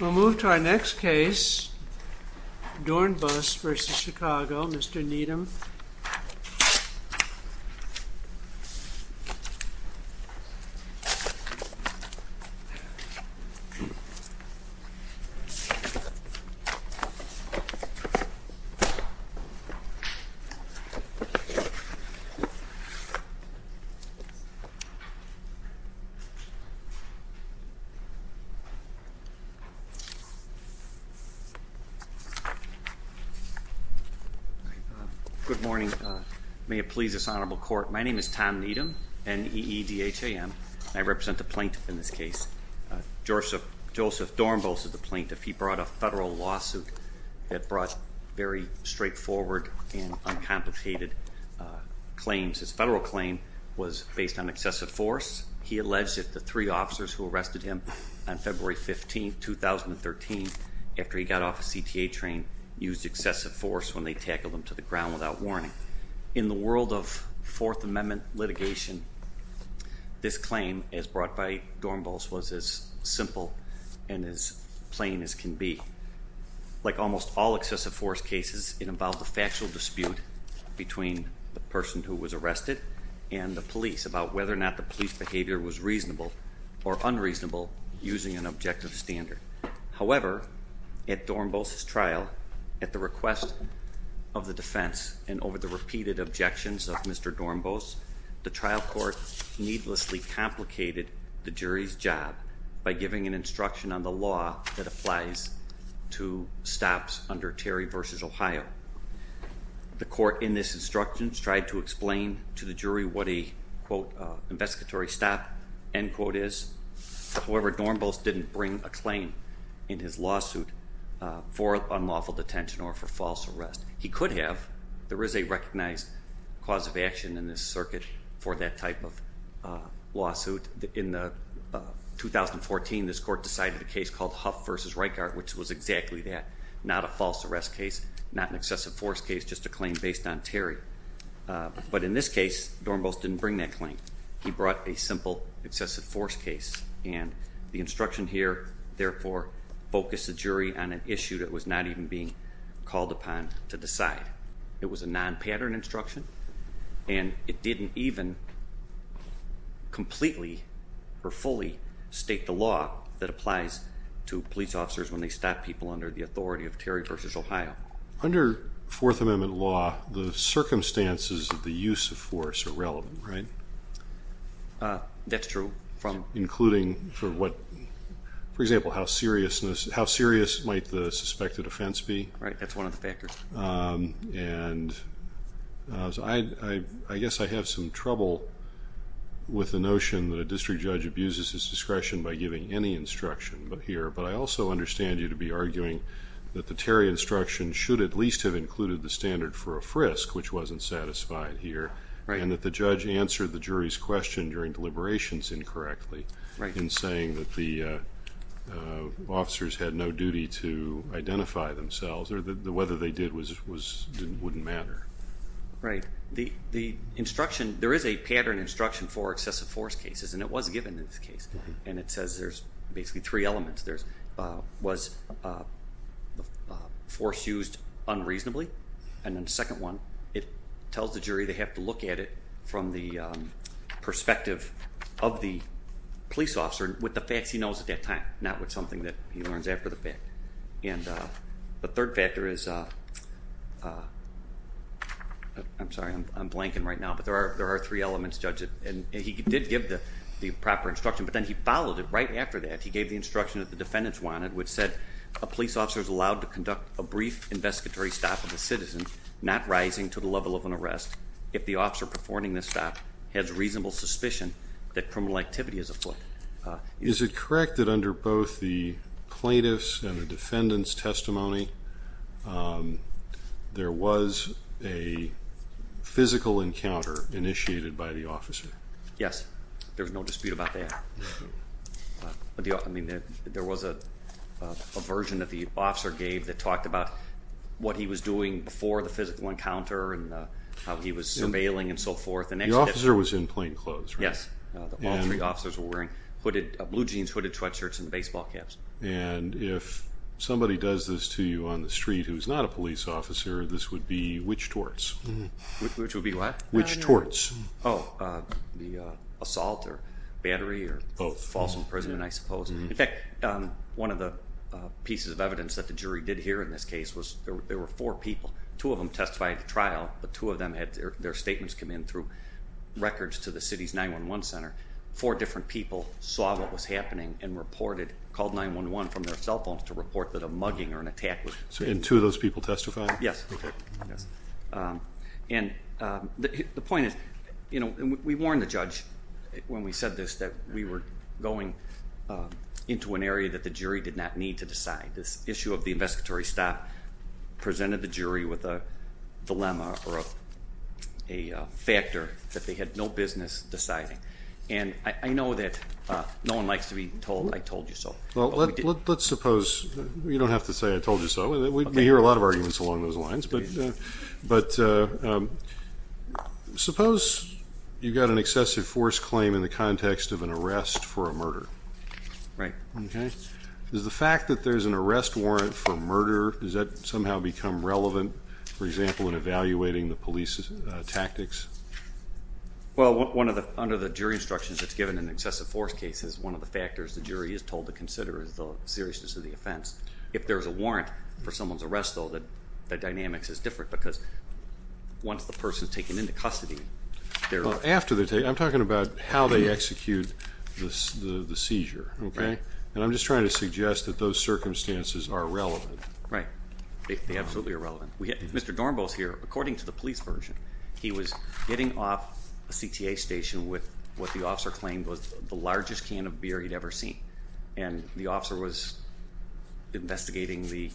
We'll move to our next case, Doornbos v. Chicago, Mr. Needham. Good morning. May it please this honorable court, my name is Tom Needham, N-E-E-D-H-A-M, and I represent the plaintiff in this case. Joseph Doornbos is the plaintiff. He brought a federal lawsuit that brought very straightforward and uncomplicated claims. His federal claim was based on excessive force. He alleged that the three officers who arrested him on February 15, 2013, after he got off a CTA train, used excessive force when they tackled him to the ground without warning. In the world of Fourth Amendment litigation, this claim, as brought by Doornbos, was as simple and as plain as can be. Like almost all excessive force cases, it involved a factual dispute between the person who was arrested and the police about whether or not the police behavior was reasonable or unreasonable using an objective standard. However, at Doornbos' trial, at the request of the defense and over the repeated objections of Mr. Doornbos, the trial court needlessly complicated the jury's job by giving an instruction on the law that applies to stops under Terry v. Ohio. The court in this instruction tried to explain to the jury what a, quote, investigatory stop, end quote, is. However, Doornbos didn't bring a claim in his lawsuit for unlawful detention or for false arrest. He could have. There is a recognized cause of action in this circuit for that type of lawsuit. In 2014, this court decided a case called Huff v. Reichart, which was exactly that. Not a false arrest case, not an excessive force case, just a claim based on Terry. But in this case, Doornbos didn't bring that claim. He brought a simple excessive force case. And the instruction here, therefore, focused the jury on an issue that was not even being called upon to decide. It was a non-pattern instruction, and it didn't even completely or fully state the law that applies to police officers when they stop people under the authority of Terry v. Ohio. Under Fourth Amendment law, the circumstances of the use of force are relevant, right? That's true. Including, for example, how serious might the suspected offense be? Right, that's one of the factors. And I guess I have some trouble with the notion that a district judge abuses his discretion by giving any instruction here. But I also understand you to be arguing that the Terry instruction should at least have included the standard for a frisk, which wasn't satisfied here, and that the judge answered the jury's question during deliberations incorrectly in saying that the officers had no duty to identify themselves, or that whether they did wouldn't matter. Right. The instruction, there is a pattern instruction for excessive force cases, and it was given in this case. And it says there's basically three elements. There was force used unreasonably, and then the second one, it tells the jury they have to look at it from the perspective of the police officer with the facts he knows at that time, not with something that he learns after the fact. And the third factor is, I'm sorry, I'm blanking right now, but there are three elements, Judge, and he did give the proper instruction, but then he followed it right after that. He gave the instruction that the defendants wanted, which said, a police officer is allowed to conduct a brief investigatory stop of a citizen not rising to the level of an arrest if the officer performing this stop has reasonable suspicion that criminal activity is afoot. Is it correct that under both the plaintiffs' and the defendants' testimony, there was a physical encounter initiated by the officer? Yes. There's no dispute about that. I mean, there was a version that the officer gave that talked about what he was doing before the physical encounter and how he was surveilling and so forth. The officer was in plain clothes, right? Yes. All three officers were wearing blue jeans, hooded sweatshirts, and baseball caps. And if somebody does this to you on the street who's not a police officer, this would be which torts? Which would be what? Which torts? Oh, the assault or battery or false imprisonment, I suppose. In fact, one of the pieces of evidence that the jury did hear in this case was there were four people. Two of them testified at the trial, but two of them had their statements come in through records to the city's 911 center. Four different people saw what was happening and called 911 from their cell phones to report that a mugging or an attack was taking place. And two of those people testified? Yes. And the point is, you know, we warned the judge when we said this, that we were going into an area that the jury did not need to decide. This issue of the investigatory stop presented the jury with a dilemma or a factor that they had no business deciding. And I know that no one likes to be told, I told you so. Well, let's suppose you don't have to say, I told you so. We hear a lot of arguments along those lines. But suppose you've got an excessive force claim in the context of an arrest for a murder. Right. Okay. Does the fact that there's an arrest warrant for murder, does that somehow become relevant, for example, in evaluating the police's tactics? Well, under the jury instructions that's given in excessive force cases, one of the factors the jury is told to consider is the seriousness of the offense. If there's a warrant for someone's arrest, though, the dynamics is different, because once the person is taken into custody, they're- Well, after they're taken, I'm talking about how they execute the seizure, okay? Right. And I'm just trying to suggest that those circumstances are relevant. Right. They absolutely are relevant. Mr. Dornbo's here, according to the police version, he was getting off a CTA station with what the officer claimed was the largest can of beer he'd ever seen. And the officer was investigating the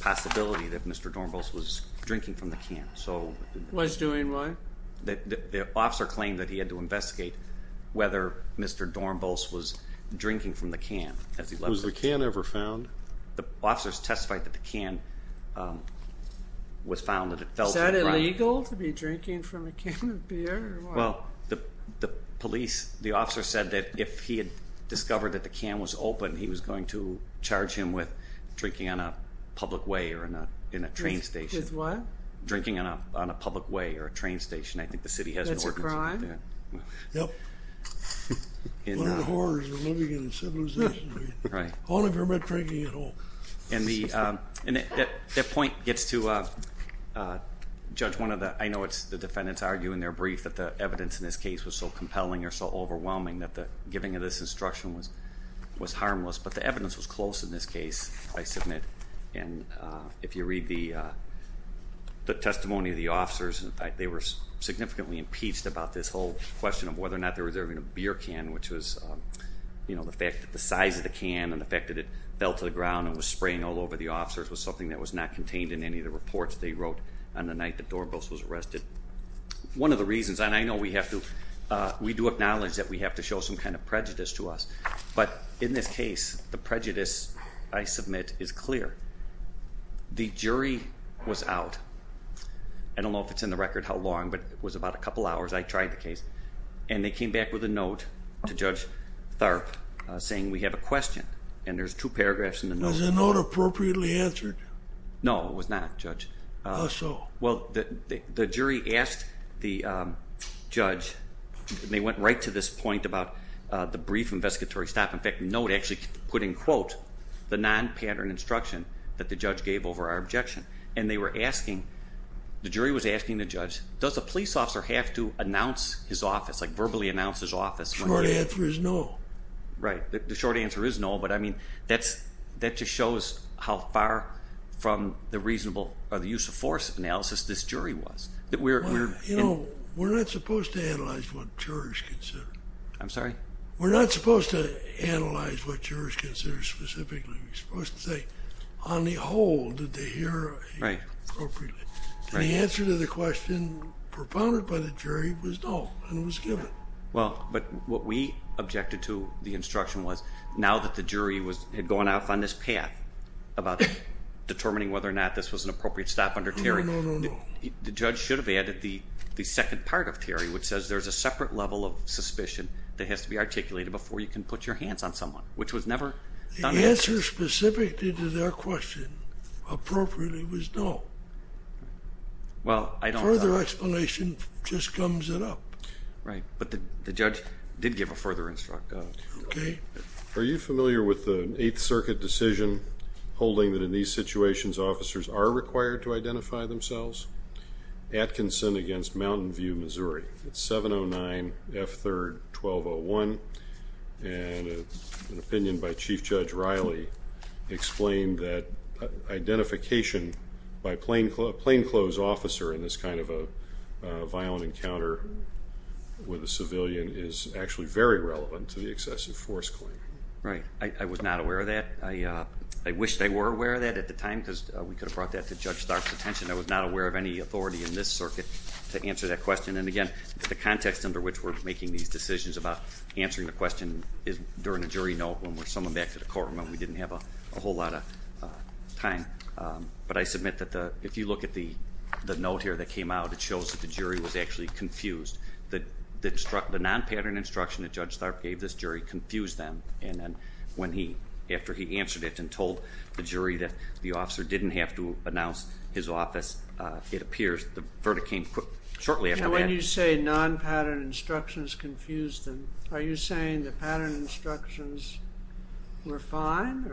possibility that Mr. Dornbo's was drinking from the can. So- Was doing what? The officer claimed that he had to investigate whether Mr. Dornbo's was drinking from the can. Was the can ever found? The officers testified that the can was found- Is that illegal, to be drinking from a can of beer? Well, the police, the officer said that if he had discovered that the can was open, he was going to charge him with drinking on a public way or in a train station. With what? Drinking on a public way or a train station. I think the city has an ordinance- That's a crime? Yep. One of the horrors of living in a civilization, right? Right. Only if you're not drinking at all. And that point gets to, Judge, one of the- I know the defendants argue in their brief that the evidence in this case was so compelling or so overwhelming that the giving of this instruction was harmless. But the evidence was close in this case, I submit. And if you read the testimony of the officers, in fact, they were significantly impeached about this whole question of whether or not they were serving a beer can, which was the fact that the size of the can and the fact that it fell to the ground and was spraying all over the officers was something that was not contained in any of the reports they wrote on the night that Dorbos was arrested. One of the reasons, and I know we have to- we do acknowledge that we have to show some kind of prejudice to us, but in this case, the prejudice, I submit, is clear. The jury was out. I don't know if it's in the record how long, but it was about a couple hours. I tried the case. And they came back with a note to Judge Tharp saying we have a question. And there's two paragraphs in the note. Was the note appropriately answered? No, it was not, Judge. How so? Well, the jury asked the judge, and they went right to this point about the brief investigatory stop. In fact, the note actually put in quote the non-pattern instruction that the judge gave over our objection. And they were asking, the jury was asking the judge, does a police officer have to announce his office, like verbally announce his office? The short answer is no. Right. The short answer is no. But, I mean, that just shows how far from the reasonable or the use of force analysis this jury was. You know, we're not supposed to analyze what jurors consider. I'm sorry? We're not supposed to analyze what jurors consider specifically. We're supposed to say, on the whole, did they hear appropriately? The answer to the question propounded by the jury was no, and it was given. Well, but what we objected to the instruction was, now that the jury had gone off on this path about determining whether or not this was an appropriate stop under Terry. No, no, no, no, no. The judge should have added the second part of Terry, which says there's a separate level of suspicion that has to be articulated before you can put your hands on someone, which was never done. The answer specific to their question, appropriately, was no. Well, I don't. Further explanation just comes it up. Right, but the judge did give a further instruction. Okay. Are you familiar with the Eighth Circuit decision holding that in these situations, officers are required to identify themselves? Atkinson against Mountain View, Missouri. It's 709F3-1201, and an opinion by Chief Judge Riley explained that identification by a plainclothes officer in this kind of a violent encounter with a civilian is actually very relevant to the excessive force claim. Right. I was not aware of that. I wish they were aware of that at the time because we could have brought that to Judge Stark's attention. I was not aware of any authority in this circuit to answer that question. And, again, the context under which we're making these decisions about answering the question is during a jury note when we're summoned back to the court when we didn't have a whole lot of time. But I submit that if you look at the note here that came out, it shows that the jury was actually confused. The non-pattern instruction that Judge Stark gave this jury confused them, and then after he answered it and told the jury that the officer didn't have to announce his office, it appears the verdict came shortly after that. So when you say non-pattern instructions confused them, are you saying the pattern instructions were fine?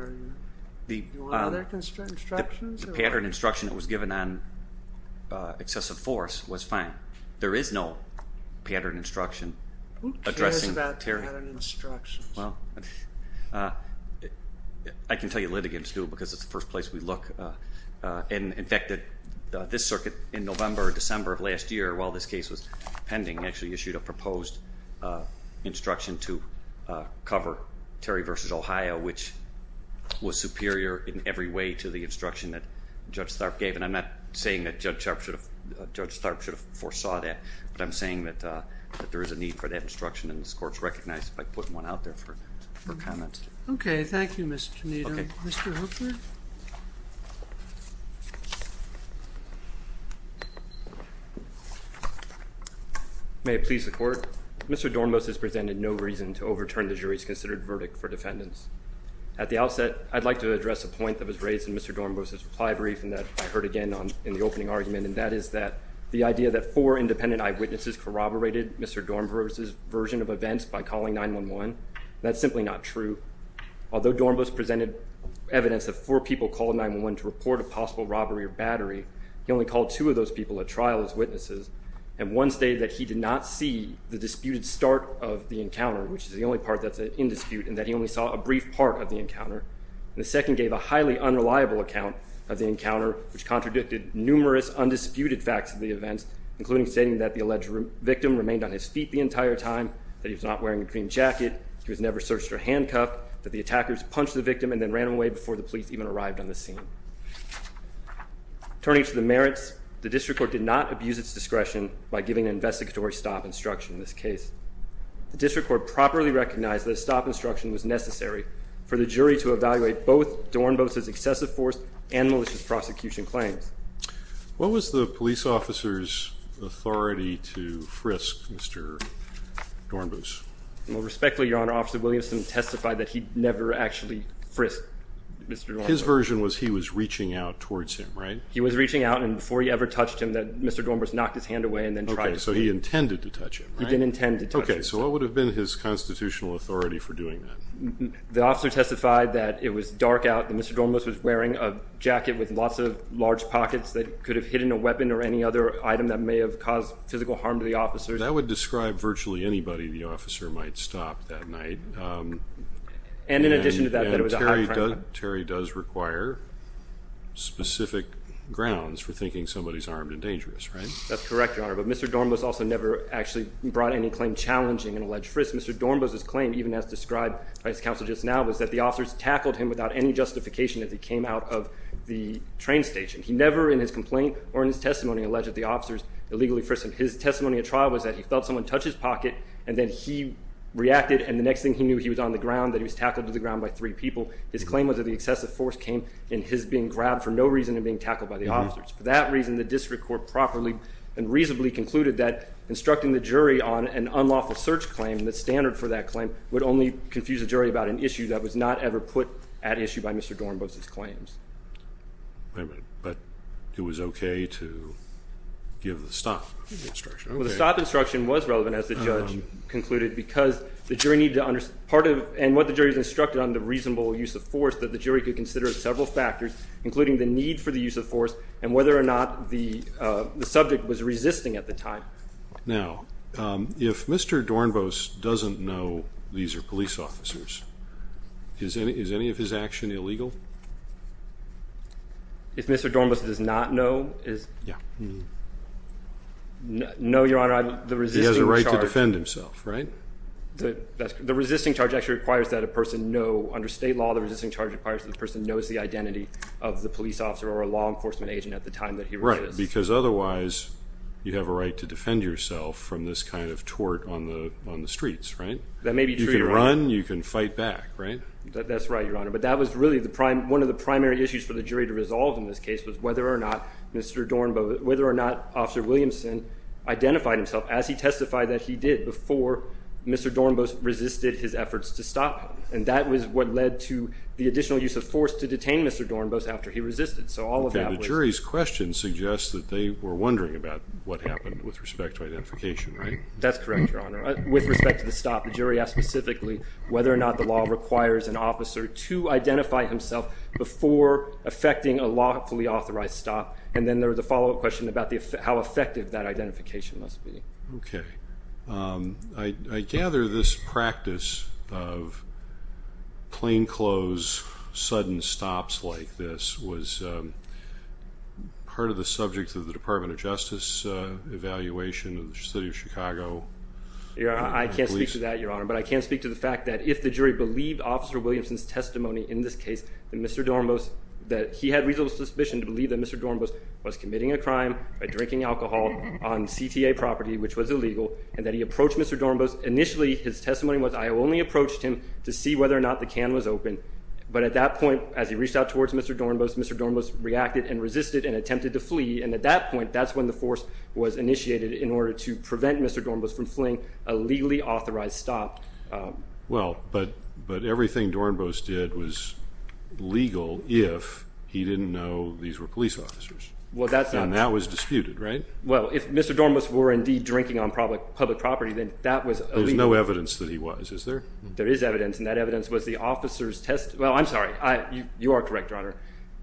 Do you want other instructions? The pattern instruction that was given on excessive force was fine. There is no pattern instruction addressing Terry. Who cares about pattern instructions? Well, I can tell you litigants do because it's the first place we look. In fact, this circuit in November or December of last year, while this case was pending, actually issued a proposed instruction to cover Terry v. Ohio, which was superior in every way to the instruction that Judge Stark gave. And I'm not saying that Judge Stark should have foresaw that, but I'm saying that there is a need for that instruction, and this Court has recognized it by putting one out there for comment. Okay, thank you, Mr. Tanito. Mr. Hoekstra? May it please the Court? Mr. Dornbus has presented no reason to overturn the jury's considered verdict for defendants. At the outset, I'd like to address a point that was raised in Mr. Dornbus' reply brief and that I heard again in the opening argument, and that is that the idea that four independent eyewitnesses corroborated Mr. Dornbus' version of events by calling 911, that's simply not true. Although Dornbus presented evidence that four people called 911 to report a possible robbery or battery, he only called two of those people at trial as witnesses, and one stated that he did not see the disputed start of the encounter, which is the only part that's in dispute, and that he only saw a brief part of the encounter. The second gave a highly unreliable account of the encounter, which contradicted numerous undisputed facts of the events, including stating that the alleged victim remained on his feet the entire time, that he was not wearing a green jacket, he was never searched or handcuffed, that the attackers punched the victim and then ran away before the police even arrived on the scene. Turning to the merits, the district court did not abuse its discretion by giving an investigatory stop instruction in this case. The district court properly recognized that a stop instruction was necessary for the jury to evaluate both Dornbus' excessive force and malicious prosecution claims. What was the police officer's authority to frisk Mr. Dornbus? Well, respectfully, Your Honor, Officer Williamson testified that he never actually frisked Mr. Dornbus. His version was he was reaching out towards him, right? He was reaching out, and before he ever touched him, Mr. Dornbus knocked his hand away and then tried to pull it. Okay, so he intended to touch him, right? He didn't intend to touch him. Okay, so what would have been his constitutional authority for doing that? The officer testified that it was dark out, that Mr. Dornbus was wearing a jacket with lots of large pockets that could have hidden a weapon or any other item that may have caused physical harm to the officer. That would describe virtually anybody the officer might stop that night. And in addition to that, that it was a high crime. And Terry does require specific grounds for thinking somebody's armed and dangerous, right? That's correct, Your Honor. But Mr. Dornbus also never actually brought any claim challenging an alleged frisk. Mr. Dornbus' claim, even as described by his counsel just now, was that the officers tackled him without any justification as he came out of the train station. He never, in his complaint or in his testimony, alleged that the officers illegally frisked him. His testimony at trial was that he felt someone touch his pocket, and then he reacted, and the next thing he knew, he was on the ground, that he was tackled to the ground by three people. His claim was that the excessive force came in his being grabbed for no reason and being tackled by the officers. For that reason, the district court properly and reasonably concluded that instructing the jury on an unlawful search claim, the standard for that claim, would only confuse the jury about an issue that was not ever put at issue by Mr. Dornbus' claims. Wait a minute. But it was okay to give the stop instruction. Well, the stop instruction was relevant, as the judge concluded, because the jury needed to understand part of it, and what the jury instructed on the reasonable use of force that the jury could consider as several factors, including the need for the use of force and whether or not the subject was resisting at the time. Now, if Mr. Dornbus doesn't know these are police officers, is any of his action illegal? If Mr. Dornbus does not know? Yeah. No, Your Honor. He has a right to defend himself, right? The resisting charge actually requires that a person know, under state law, the resisting charge requires that the person knows the identity of the police officer or a law enforcement agent at the time that he resists. Because otherwise, you have a right to defend yourself from this kind of tort on the streets, right? That may be true. You can run. You can fight back, right? That's right, Your Honor. But that was really one of the primary issues for the jury to resolve in this case was whether or not Officer Williamson identified himself as he testified that he did before Mr. Dornbus resisted his efforts to stop him. And that was what led to the additional use of force to detain Mr. Dornbus after he resisted. Okay. The jury's question suggests that they were wondering about what happened with respect to identification, right? That's correct, Your Honor. With respect to the stop, the jury asked specifically whether or not the law requires an officer to identify himself before effecting a lawfully authorized stop. And then there was a follow-up question about how effective that identification must be. Okay. I gather this practice of plainclothes, sudden stops like this was part of the subject of the Department of Justice evaluation of the city of Chicago. I can't speak to that, Your Honor. But I can speak to the fact that if the jury believed Officer Williamson's testimony in this case, that Mr. Dornbus, that he had reasonable suspicion to believe that Mr. Dornbus was committing a crime by drinking alcohol on CTA property, which was illegal, and that he approached Mr. Dornbus. Initially, his testimony was, I only approached him to see whether or not the can was open. But at that point, as he reached out towards Mr. Dornbus, Mr. Dornbus reacted and resisted and attempted to flee. And at that point, that's when the force was initiated in order to prevent Mr. Dornbus from fleeing a legally authorized stop. Well, but everything Dornbus did was legal if he didn't know these were police officers. Well, that's not true. And that was disputed, right? Well, if Mr. Dornbus were indeed drinking on public property, then that was illegal. There's no evidence that he was, is there? There is evidence, and that evidence was the officer's testimony. Well, I'm sorry. You are correct, Your Honor.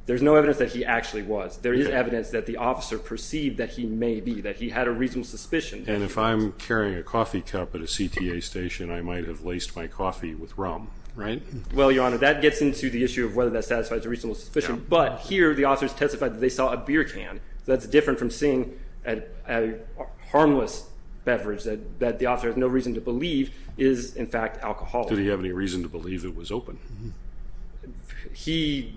There's no evidence that he actually was. There is evidence that the officer perceived that he may be, that he had a reasonable suspicion. And if I'm carrying a coffee cup at a CTA station, I might have laced my coffee with rum, right? Well, Your Honor, that gets into the issue of whether that satisfies a reasonable suspicion. But here, the officers testified that they saw a beer can. That's different from seeing a harmless beverage that the officer has no reason to believe is, in fact, alcohol. Did he have any reason to believe it was open? He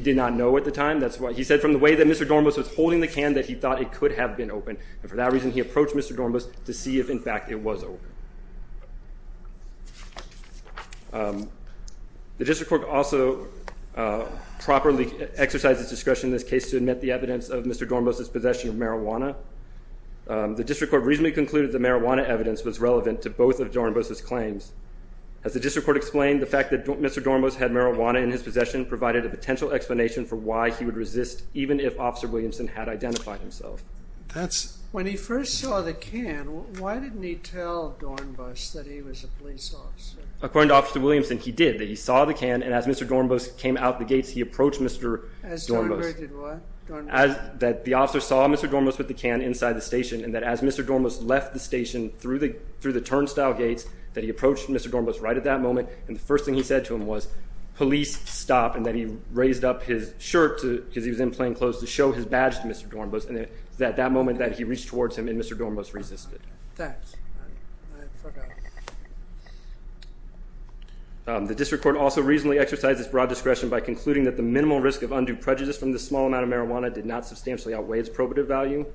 did not know at the time. He said from the way that Mr. Dornbus was holding the can that he thought it could have been open. And for that reason, he approached Mr. Dornbus to see if, in fact, it was open. The district court also properly exercised its discretion in this case to admit the evidence of Mr. Dornbus' possession of marijuana. The district court reasonably concluded that marijuana evidence was relevant to both of Dornbus' claims. As the district court explained, the fact that Mr. Dornbus had marijuana in his possession provided a potential explanation for why he would resist even if Officer Williamson had identified himself. When he first saw the can, why didn't he tell Dornbus that he was a police officer? According to Officer Williamson, he did. That he saw the can, and as Mr. Dornbus came out the gates, he approached Mr. Dornbus. As Dornbus did what? That the officer saw Mr. Dornbus with the can inside the station, and that as Mr. Dornbus left the station through the turnstile gates, that he approached Mr. Dornbus right at that moment, and the first thing he said to him was, police, stop, and that he raised up his shirt because he was in plainclothes to show his badge to Mr. Dornbus. And it was at that moment that he reached towards him, and Mr. Dornbus resisted. Thanks. The district court also reasonably exercised its broad discretion by concluding that the minimal risk of undue prejudice from this small amount of marijuana did not substantially outweigh its probative value.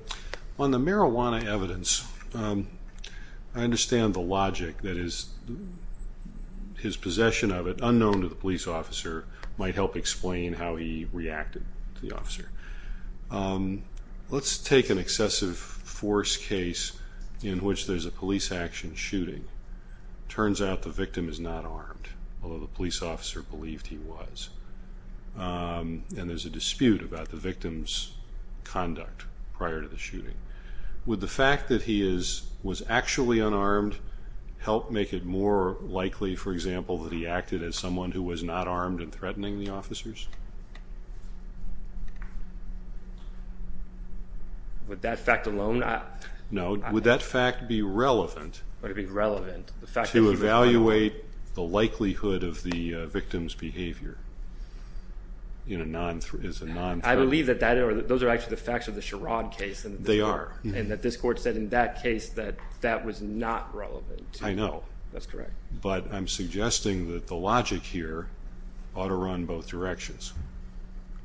On the marijuana evidence, I understand the logic that his possession of it, unknown to the police officer, might help explain how he reacted to the officer. Let's take an excessive force case in which there's a police action shooting. Turns out the victim is not armed, although the police officer believed he was. And there's a dispute about the victim's conduct prior to the shooting. Would the fact that he was actually unarmed help make it more likely, for example, that he acted as someone who was not armed and threatening the officers? Would that fact alone? No. Would that fact be relevant to evaluate the likelihood of the victim's behavior? I believe that those are actually the facts of the Sherrod case. They are. And that this court said in that case that that was not relevant. I know. That's correct. But I'm suggesting that the logic here ought to run both directions.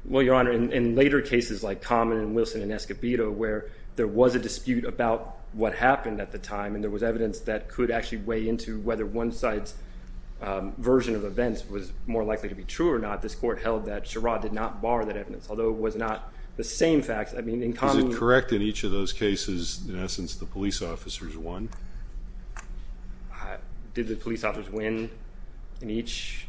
Well, Your Honor, in later cases like Common and Wilson and Escobedo, where there was a dispute about what happened at the time and there was evidence that could actually weigh into whether one side's version of events was more likely to be true or not, this court held that Sherrod did not borrow that evidence, although it was not the same facts. I mean, in Common… Is it correct in each of those cases, in essence, the police officers won? Did the police officers win in each?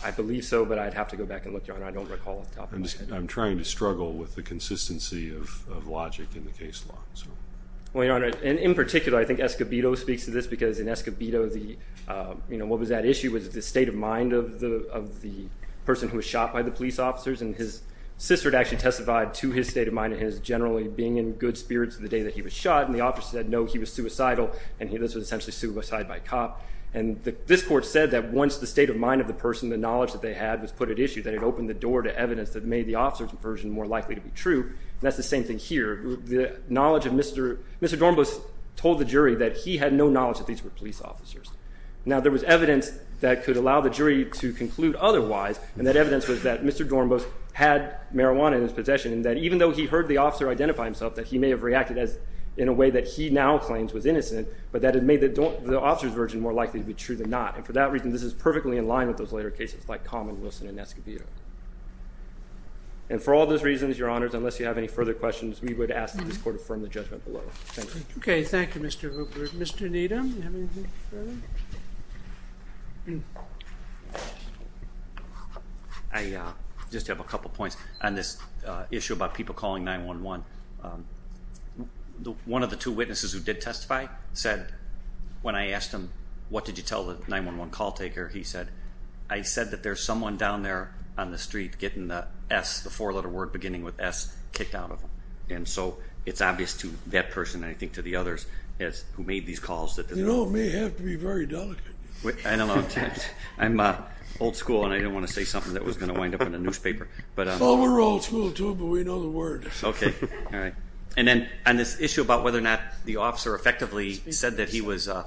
I believe so, but I'd have to go back and look, Your Honor. I don't recall off the top of my head. I'm trying to struggle with the consistency of logic in the case law. Well, Your Honor, in particular, I think Escobedo speaks to this because in Escobedo, what was at issue was the state of mind of the person who was shot by the police officers, and his sister had actually testified to his state of mind and his generally being in good spirits the day that he was shot, and the officer said, no, he was suicidal, and this was essentially suicide by cop. And this court said that once the state of mind of the person, the knowledge that they had was put at issue, that it opened the door to evidence that made the officer's version more likely to be true, and that's the same thing here. The knowledge of Mr.… Mr. Dornbus told the jury that he had no knowledge that these were police officers. Now, there was evidence that could allow the jury to conclude otherwise, and that evidence was that Mr. Dornbus had marijuana in his possession and that even though he heard the officer identify himself, that he may have reacted in a way that he now claims was innocent, but that it made the officer's version more likely to be true than not, and for that reason, this is perfectly in line with those later cases like Common, Wilson, and Escobedo. And for all those reasons, Your Honors, unless you have any further questions, we would ask that this court affirm the judgment below. Thank you. Okay, thank you, Mr. Hooper. Mr. Needham, do you have anything further? I just have a couple points on this issue about people calling 911. One of the two witnesses who did testify said, when I asked him, what did you tell the 911 call taker, he said, I said that there's someone down there on the street getting the S, the four-letter word beginning with S, kicked out of him. And so it's obvious to that person and I think to the others who made these calls. You know, it may have to be very delicate. I don't know. I'm old school and I didn't want to say something that was going to wind up in a newspaper. Well, we're old school too, but we know the word. Okay, all right. And then on this issue about whether or not the officer effectively said that he was a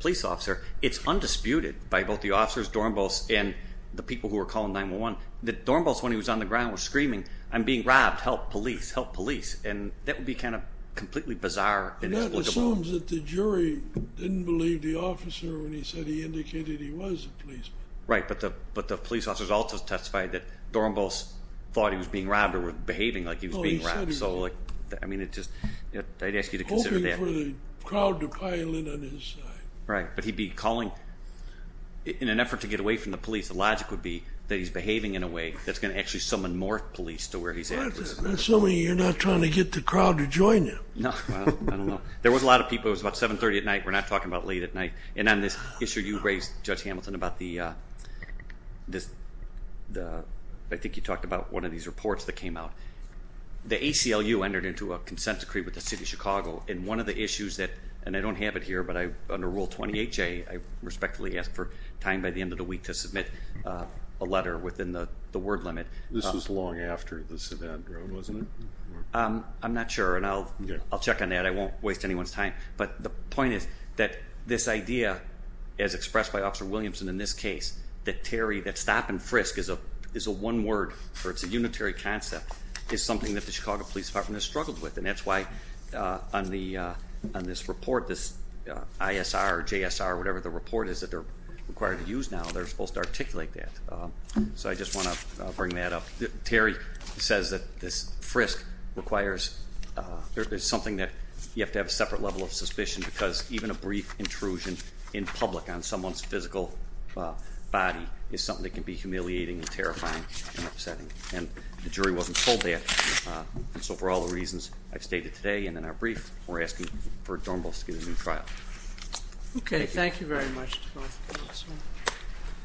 police officer, it's undisputed by both the officers, Dornbos, and the people who were calling 911, that Dornbos, when he was on the ground, was screaming, I'm being robbed, help police, help police. And that would be kind of completely bizarre. And that assumes that the jury didn't believe the officer when he said he indicated he was a policeman. Right, but the police officers also testified that Dornbos thought he was being robbed or was behaving like he was being robbed. Oh, he said he was. I mean, I'd ask you to consider that. Hoping for the crowd to pile in on his side. Right, but he'd be calling in an effort to get away from the police. The logic would be that he's behaving in a way that's going to actually summon more police to where he's at. So you're not trying to get the crowd to join him. No, I don't know. There was a lot of people. It was about 730 at night. We're not talking about late at night. And on this issue, you raised, Judge Hamilton, about the, I think you talked about one of these reports that came out. The ACLU entered into a consent decree with the city of Chicago. And one of the issues that, and I don't have it here, but under Rule 28J, I respectfully ask for time by the end of the week to submit a letter within the word limit. This was long after the sedan drove, wasn't it? I'm not sure, and I'll check on that. I won't waste anyone's time. But the point is that this idea, as expressed by Officer Williamson in this case, that Terry, that stop and frisk is a one word, or it's a unitary concept, is something that the Chicago Police Department has struggled with. And that's why on this report, this ISR, JSR, whatever the report is that they're required to use now, they're supposed to articulate that. So I just want to bring that up. Terry says that this frisk requires, there's something that you have to have a separate level of suspicion because even a brief intrusion in public on someone's physical body is something that can be humiliating and terrifying and upsetting. And the jury wasn't told that. And so for all the reasons I've stated today and in our brief, we're asking for Dornbus to get a new trial. Okay. Thank you very much.